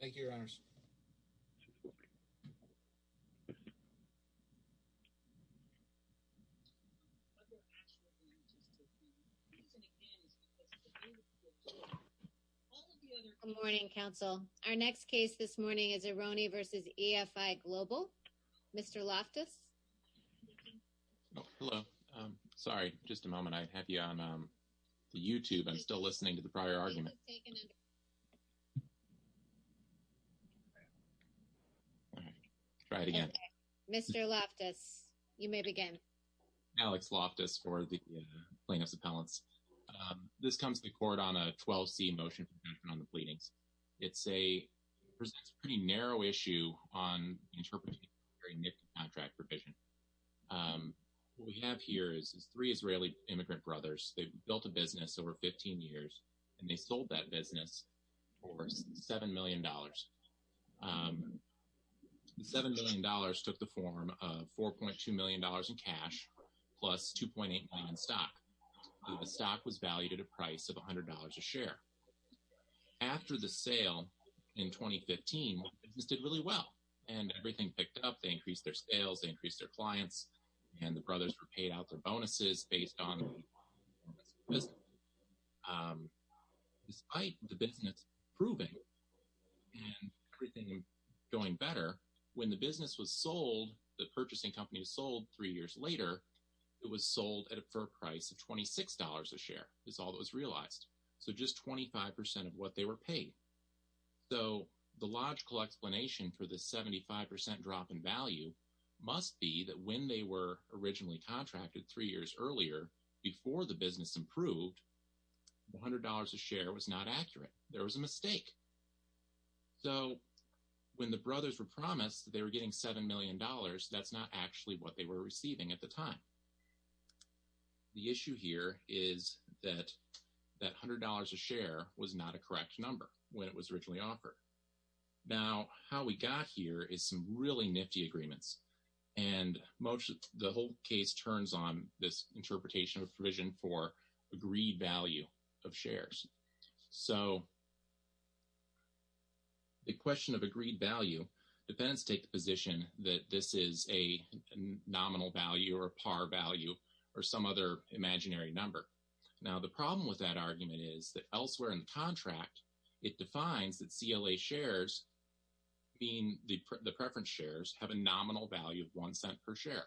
Thank you, Your Honors. Good morning, counsel. Our next case this morning is Ironi v. EFI Global. Mr. Loftus. Hello. Sorry. Just a moment. I have you on the YouTube. I'm still listening to the prior argument. All right. Try it again. Mr. Loftus, you may begin. Alex Loftus for the plaintiff's appellants. This comes to the court on a 12C motion on the pleadings. It's a pretty narrow issue on interpreting a contract provision. We have here is three Israeli immigrant brothers. They built a business over 15 years and they sold that business for $7 million. The $7 million took the form of $4.2 million in cash plus $2.8 million in stock. The stock was valued at a price of $100 a share. After the sale in 2015, the business did really well and everything picked up. They increased their sales, increased their clients, and the brothers were paid out their bonuses based on this. Despite the business improving and going better, when the business was sold, the purchasing company was sold three years later, it was sold for a price of $26 a share is all that was realized. So just 25 percent of what they were paid. So the logical explanation for the 75 percent drop in value must be that when they were originally contracted three years earlier, before the business improved, $100 a share was not accurate. There was a mistake. So when the brothers were promised they were getting $7 million, that's not actually what they were receiving at the time. The issue here is that that $100 a share was not a correct number when it was originally offered. Now, how we got here is some really nifty agreements. And most of the whole case turns on this interpretation of provision for agreed value of shares. So. The question of agreed value depends take the position that this is a nominal value or par value or some other imaginary number. Now, the problem with that argument is that elsewhere in the contract, it defines that CLA shares being the preference shares have a nominal value of one cent per share.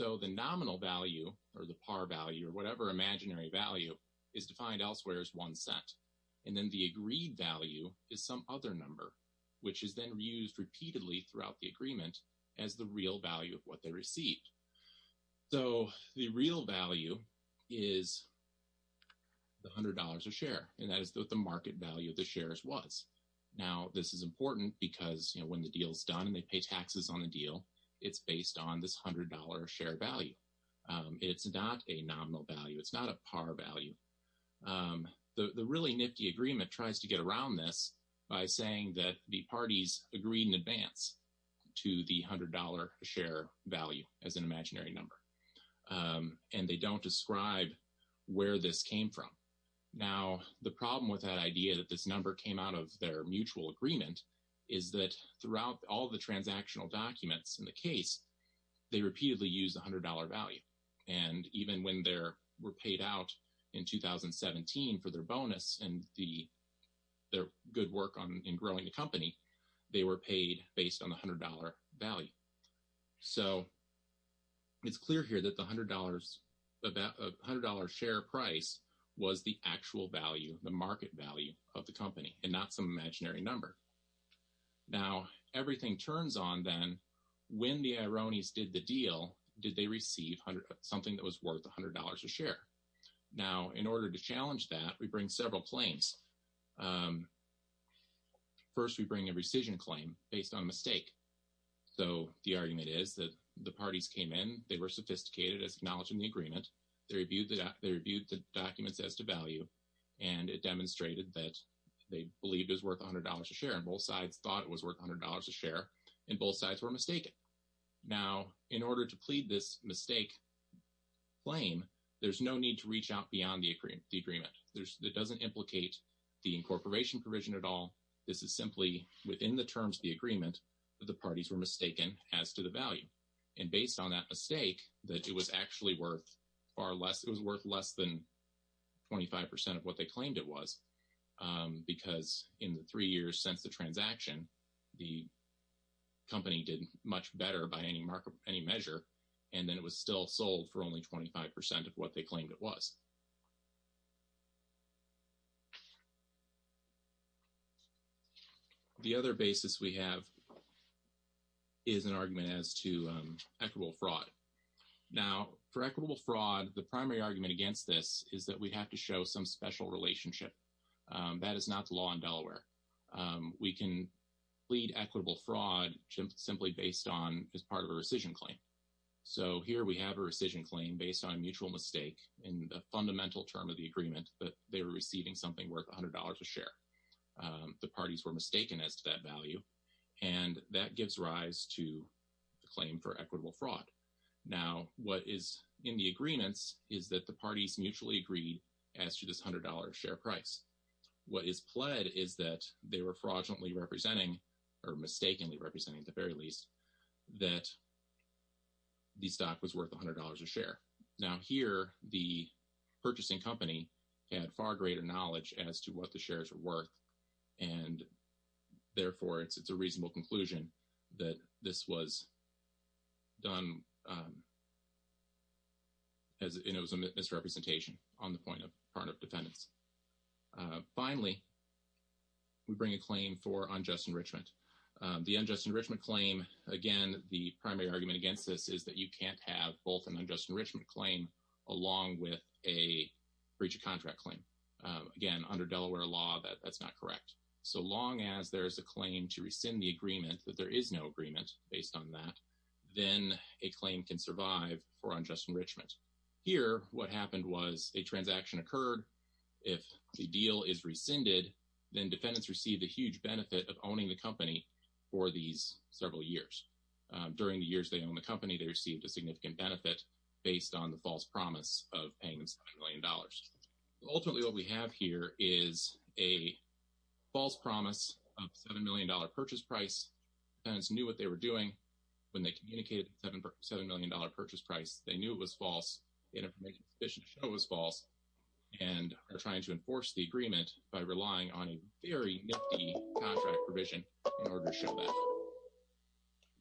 So the nominal value or the par value or whatever imaginary value is defined elsewhere as one cent. And then the agreed value is some other number which is then reused repeatedly throughout the agreement as the real value of what they received. So the real value is. The hundred dollars a share, and that is what the market value of the shares was. Now, this is important because when the deal is done and they pay taxes on the deal, it's based on this hundred dollar share value. It's not a nominal value. It's not a par value. The really nifty agreement tries to get around this by saying that the parties agreed in advance to the hundred dollar share value as an imaginary number. And they don't describe where this came from. Now, the problem with that idea that this number came out of their mutual agreement is that throughout all the transactional documents in the case, they repeatedly use a hundred dollar value. And even when they were paid out in 2017 for their bonus and the their good work on in growing the company, they were paid based on the hundred dollar value. So. It's clear here that the hundred dollars, about a hundred dollar share price was the actual value, the market value of the company and not some imaginary number. Now, everything turns on then when the ironies did the deal. Did they receive something that was worth one hundred dollars a share? Now, in order to challenge that, we bring several claims. First, we bring a rescission claim based on mistake. So the argument is that the parties came in, they were sophisticated as acknowledging the agreement. They reviewed that they reviewed the documents as to value and it demonstrated that they believed is worth one hundred dollars a share. And both sides thought it was worth one hundred dollars a share and both sides were mistaken. Now, in order to plead this mistake. Flame, there's no need to reach out beyond the agreement, the agreement that doesn't implicate the incorporation provision at all. This is simply within the terms of the agreement that the parties were mistaken as to the value. And based on that mistake that it was actually worth far less, it was worth less than 25 percent of what they claimed it was because in the three years since the transaction, the. Company did much better by any market, any measure, and then it was still sold for only 25 percent of what they claimed it was. The other basis we have. Is an argument as to equitable fraud now for equitable fraud, the primary argument against this is that we have to show some special relationship that is not the law in Delaware. We can lead equitable fraud simply based on as part of a rescission claim. So here we have a rescission claim based on a mutual mistake in the fundamental term of the agreement that they were receiving something worth one hundred dollars a share. The parties were mistaken as to that value, and that gives rise to the claim for equitable fraud. Now, what is in the agreements is that the parties mutually agreed as to this one hundred dollar share price. What is pled is that they were fraudulently representing or mistakenly representing the very least that. The stock was worth one hundred dollars a share. Now, here the purchasing company had far greater knowledge as to what the shares were worth and therefore it's it's a reasonable conclusion that this was. Done. As it was a misrepresentation on the point of part of defendants. Finally. We bring a claim for unjust enrichment. The unjust enrichment claim. Again, the primary argument against this is that you can't have both an unjust enrichment claim along with a breach of contract claim. Again, under Delaware law, that's not correct. So long as there is a claim to rescind the agreement that there is no agreement based on that, then a claim can survive for unjust enrichment. Here, what happened was a transaction occurred. If the deal is rescinded, then defendants receive a huge benefit of owning the company for these several years. During the years they own the company, they received a significant benefit based on the false promise of paying million dollars. Ultimately, what we have here is a false promise of seven million dollar purchase price. And it's knew what they were doing when they communicated seven seven million dollar purchase price. They knew it was false. It was false and are trying to enforce the agreement by relying on a very contract provision.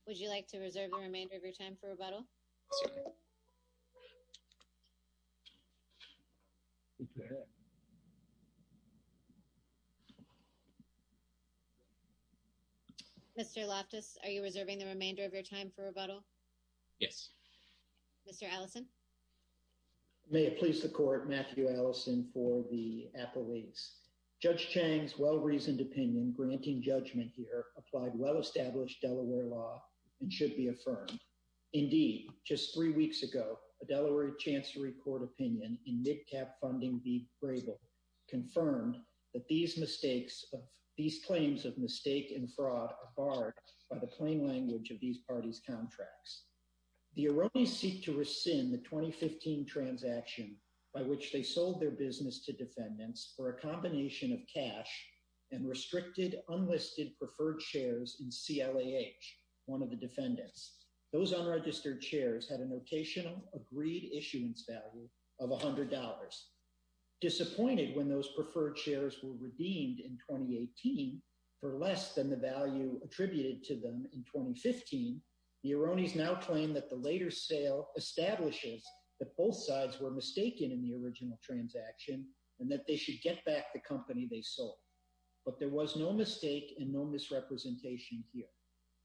Would you like to reserve the remainder of your time for rebuttal? Mr. Loftus, are you reserving the remainder of your time for rebuttal? Yes. Mr. Allison. May it please the court. Matthew Allison for the appellees. Judge Chang's well-reasoned opinion granting judgment here applied well-established Delaware law and should be affirmed. Indeed, just three weeks ago, a Delaware chancery court opinion in mid-cap funding be bravel confirmed that these mistakes of these claims of mistake and fraud are barred by the plain language of these parties contracts. The Aronis seek to rescind the 2015 transaction by which they sold their business to defendants for a combination of cash and restricted unlisted preferred shares in CLAH, one of the defendants. Those unregistered shares had a notational agreed issuance value of $100. Disappointed when those preferred shares were redeemed in 2018 for less than the value attributed to them in 2015, the Aronis now claim that the later sale establishes that both sides were mistaken in the original transaction and that they should get back the company they sold. But there was no mistake and no misrepresentation here.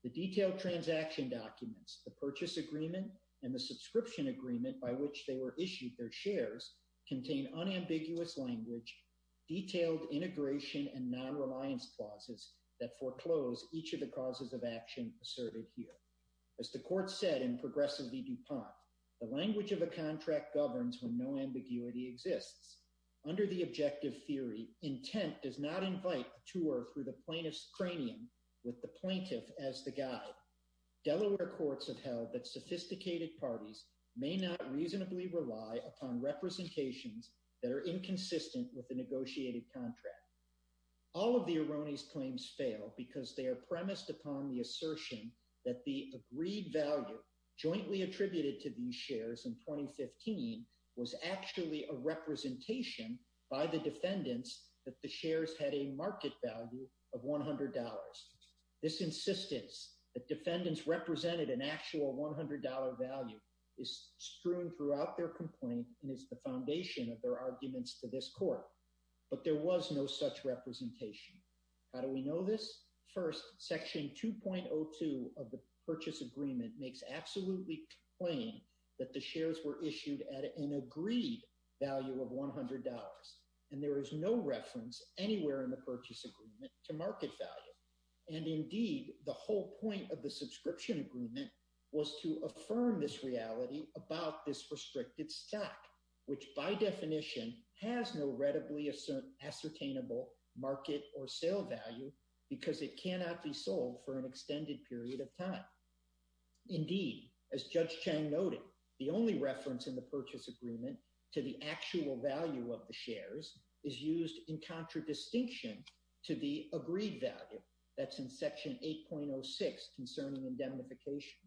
The detailed transaction documents, the purchase agreement and the subscription agreement by which they were issued their shares contain unambiguous language, detailed integration and non-reliance clauses that foreclose each of the causes of action asserted here. As the court said in progressively DuPont, the language of a contract governs when no ambiguity exists. Under the objective theory, intent does not invite a tour through the plaintiff's cranium with the plaintiff as the guide. Delaware courts have held that sophisticated parties may not reasonably rely upon representations that are inconsistent with the negotiated contract. All of the Aronis claims fail because they are premised upon the assertion that the agreed value jointly attributed to these shares in 2015 was actually a representation by the defendants that the shares had a market value of $100. This insistence that defendants represented an actual $100 value is strewn throughout their complaint and is the foundation of their arguments to this court. But there was no such representation. How do we know this? First, section 2.02 of the purchase agreement makes absolutely plain that the shares were issued at an agreed value of $100, and there is no reference anywhere in the purchase agreement to market value. And indeed, the whole point of the subscription agreement was to affirm this reality about this restricted stock, which by definition has no readily ascertainable market or sale value because it cannot be sold for an extended period of time. Indeed, as Judge Chang noted, the only reference in the purchase agreement to the actual value of the shares is used in contradistinction to the agreed value that's in section 8.06 concerning indemnification.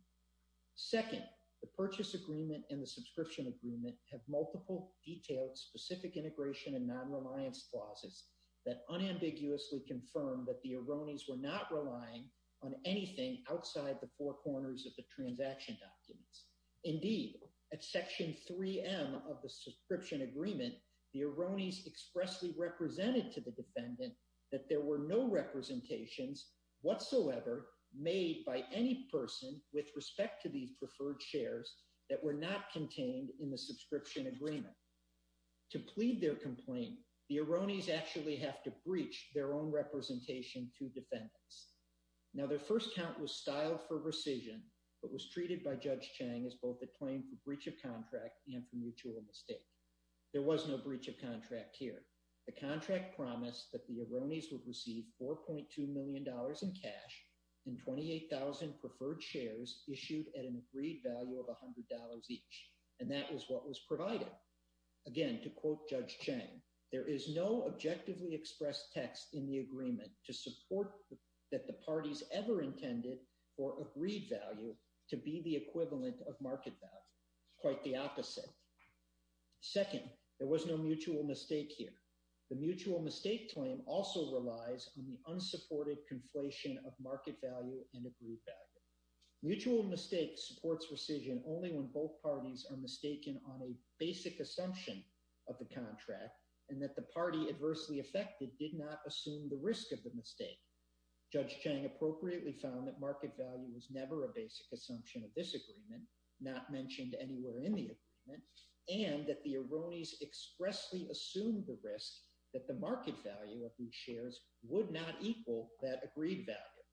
Second, the purchase agreement and the subscription agreement have multiple detailed specific integration and non-reliance clauses that unambiguously confirm that the Arronis were not relying on anything outside the four corners of the transaction documents. Indeed, at section 3M of the subscription agreement, the Arronis expressly represented to the defendant that there were no representations whatsoever made by any person with respect to these preferred shares that were not contained in the subscription agreement. To plead their complaint, the Arronis actually have to breach their own representation to defendants. Now, their first count was over-recision, but was treated by Judge Chang as both a claim for breach of contract and for mutual mistake. There was no breach of contract here. The contract promised that the Arronis would receive $4.2 million in cash and 28,000 preferred shares issued at an agreed value of $100 each, and that was what was provided. Again, to quote Judge Chang, there is no objectively expressed text in the agreement to support that the parties ever intended for agreed value to be the equivalent of market value, quite the opposite. Second, there was no mutual mistake here. The mutual mistake claim also relies on the unsupported conflation of market value and agreed value. Mutual mistakes supports rescission only when both parties are mistaken on a basic assumption of the contract and that the party adversely affected did not assume the risk of the mistake. Judge Chang appropriately found that market value was never a basic assumption of this agreement, not mentioned anywhere in the agreement, and that the Arronis expressly assumed the risk that the market value of these shares would not equal that agreed value.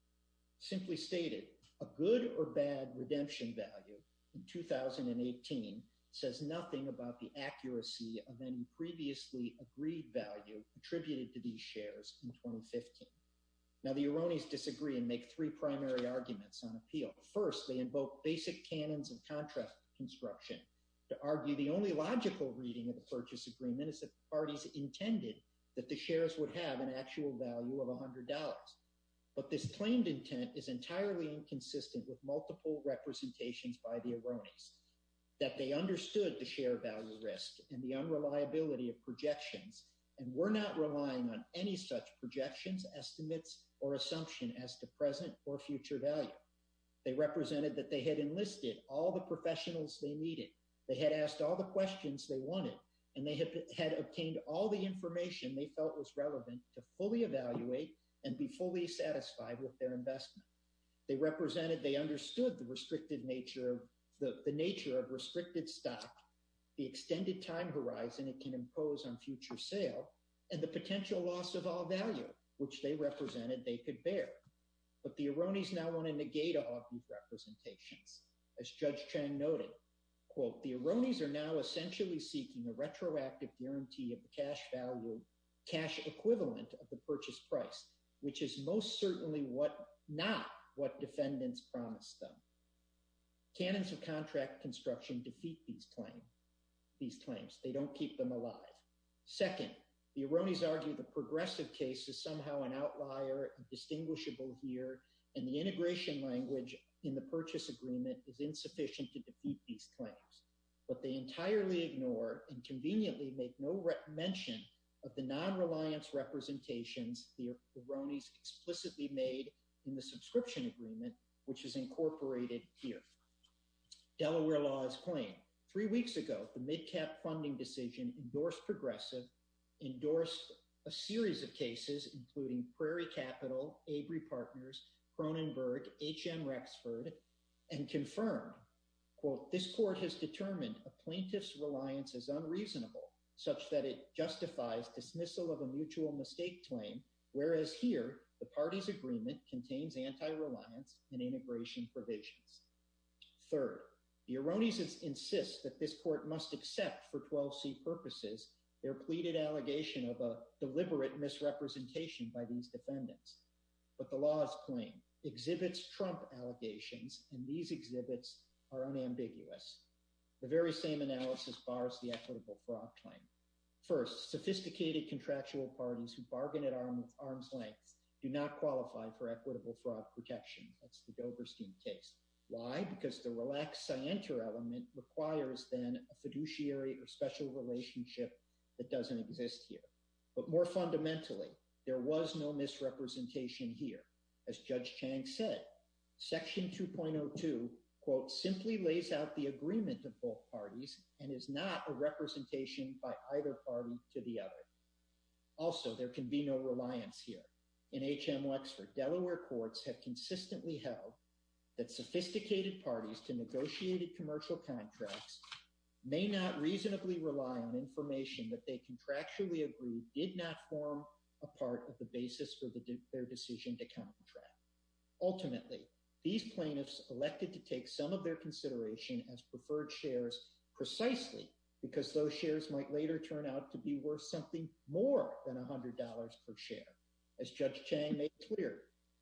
Simply stated, a good or bad redemption value in 2018 says nothing about the accuracy of any previously agreed value attributed to these shares in 2015. Now, the Arronis disagree and make three primary arguments on appeal. First, they invoke basic canons of contract construction to argue the only logical reading of the purchase agreement is that the parties intended that the shares would have an actual value of $100, but this claimed intent is entirely inconsistent with multiple representations by the Arronis, that they understood the share value risk and the unreliability of projections, and were not relying on any such projections, estimates, or assumption as to the present or future value. They represented that they had enlisted all the professionals they needed, they had asked all the questions they wanted, and they had obtained all the information they felt was relevant to fully evaluate and be fully satisfied with their investment. They represented they understood the restricted nature of the nature of restricted stock, the extended time horizon it can impose on future sale, and the potential loss of all value, which they represented they could bear. But the Arronis now want to negate all of these representations, as Judge Chang noted, quote, the Arronis are now essentially seeking a retroactive guarantee of the cash value, cash equivalent of the purchase price, which is most certainly what not what defendants promised them. Canons of contract construction defeat these claims, they don't keep them alive. Second, the Arronis argue the progressive case is somehow an outlier and distinguishable here, and the integration language in the purchase agreement is insufficient to defeat these claims, but they entirely ignore and conveniently make no mention of the non-reliance representations the Arronis explicitly made in the subscription agreement, which is incorporated here. Delaware law is plain. Three weeks ago, the mid cap funding decision endorsed progressive, endorsed a series of cases, including Prairie Capital, Avery Partners, Cronenberg, HN Rexford, and confirmed quote, this court has determined a plaintiff's reliance is unreasonable such that it justifies dismissal of a mutual mistake claim. Whereas here the party's agreement contains anti-reliance and integration provisions. Third, the Arronis insist that this court must accept for 12 C purposes, their pleaded allegation of a deliberate misrepresentation by these defendants, but the law's claim exhibits Trump allegations and these exhibits are unambiguous. The very same analysis bars, the equitable fraud claim first sophisticated contractual parties who bargained at arm's length do not qualify for equitable fraud protection. That's the Doberstein case. Why? Because the relaxed scienter element requires then a fiduciary or special relationship that doesn't exist here, but more fundamentally, there was no misrepresentation here as judge Chang said, section 2.02 quote, simply lays out the agreement of both parties and is not a representation by either party to the other. Also, there can be no reliance here in HM Wexford, Delaware courts have consistently held that sophisticated parties to negotiated commercial contracts may not reasonably rely on information that they contractually agreed did not form a part of the basis for the their decision to contract. Ultimately, these plaintiffs elected to take some of their consideration as preferred shares precisely because those shares might later turn out to be worth something more than a hundred dollars per share. As judge Chang made clear,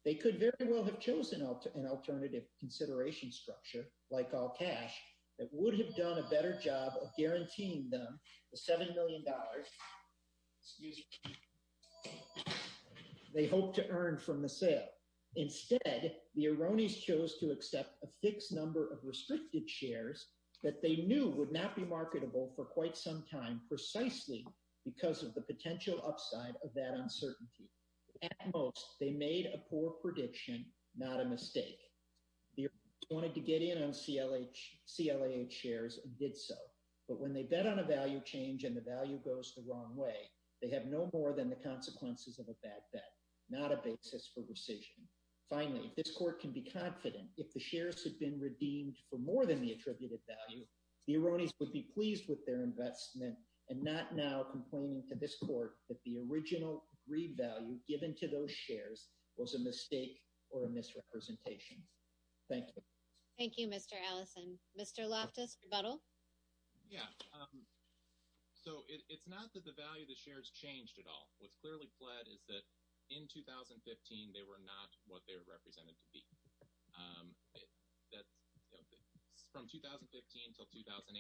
they could very well have chosen an alternative consideration structure, like all cash that would have done a better job of guaranteeing them the $7 million they hoped to earn from the sale. Instead, the Aronis chose to accept a fixed number of restricted shares that they knew would not be marketable for quite some time, precisely because of the potential upside of that uncertainty. At most, they made a poor prediction, not a mistake. They wanted to get in on CLA shares and did so, but when they bet on a value change and the value goes the wrong way, they have no more than the consequences of a bad bet, not a basis for rescission. Finally, if this court can be confident, if the shares have been redeemed for more than the attributed value, the Aronis would be pleased with their investment and not now complaining to this court that the original agreed value given to those shares was a mistake or a misrepresentation. Thank you. Thank you, Mr. Allison. Mr. Loftus, rebuttal. Yeah. Um, so it's not that the value of the shares changed at all. What's clearly pled is that in 2015, they were not what they were represented to be. Um, that's from 2015 till 2018,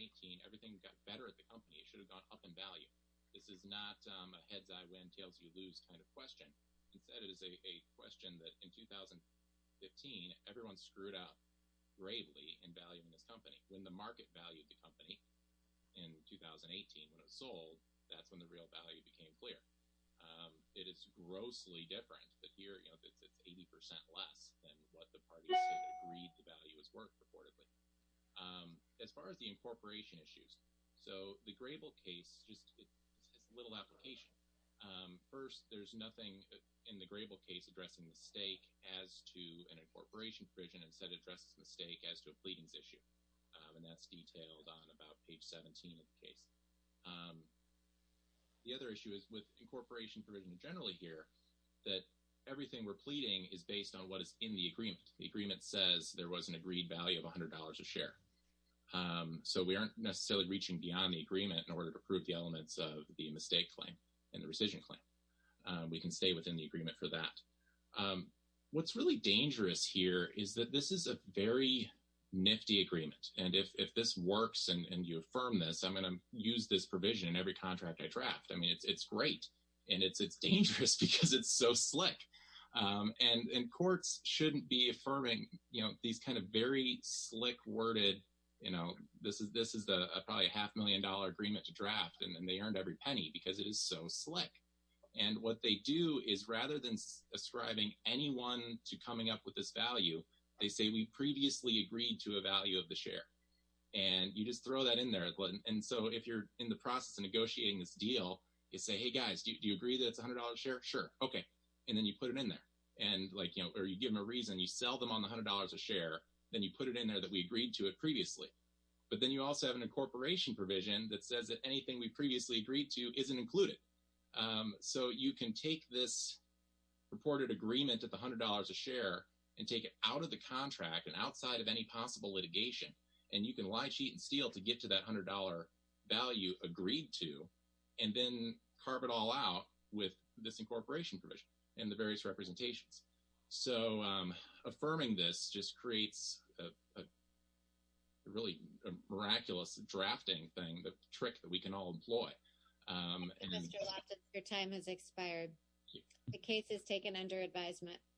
everything got better at the company. It should have gone up in value. This is not a heads. I win tails. You lose kind of question. Instead, it is a question that in 2015, everyone screwed out gravely in value in this company when the market valued the 2018, when it was sold, that's when the real value became clear. Um, it is grossly different that here, you know, it's, it's 80% less than what the party agreed the value was worth reportedly. Um, as far as the incorporation issues. So the Grable case just has a little application. Um, first there's nothing in the Grable case addressing the stake as to an incorporation provision and said, address mistake as to a pleadings issue. Um, and that's detailed on about page 17 of the case. Um, the other issue is with incorporation provision generally here, that everything we're pleading is based on what is in the agreement. The agreement says there was an agreed value of a hundred dollars a share. Um, so we aren't necessarily reaching beyond the agreement in order to prove the elements of the mistake claim and the rescission claim. Um, we can stay within the agreement for that. Um, what's really dangerous here is that this is a very nifty agreement. And if, if this works and you affirm this, I'm going to use this provision in every contract I draft. I mean, it's, it's great. And it's, it's dangerous because it's so slick. Um, and, and courts shouldn't be affirming, you know, these kinds of very slick worded, you know, this is, this is a probably a half million dollar agreement to draft and then they earned every penny because it is so slick. And what they do is rather than ascribing anyone to coming up with this value, they say we previously agreed to a value of the share and you just throw that in there. And so if you're in the process of negotiating this deal, you say, Hey guys, do you agree that it's a hundred dollars a share? Sure. Okay. And then you put it in there and like, you know, or you give them a reason you sell them on the a hundred dollars a share. Then you put it in there that we agreed to it previously, but then you also have an incorporation provision that says that anything we previously agreed to isn't included. Um, so you can take this reported agreement at the a hundred dollars a share and take it out of the contract and outside of any possible litigation. And you can lie, cheat and steal to get to that a hundred dollar value agreed to, and then carve it all out with this incorporation provision and the various representations. So, um, affirming this just creates a really miraculous drafting thing, the trick that we can all employ. Um, your time has expired. The case is taken under advisement.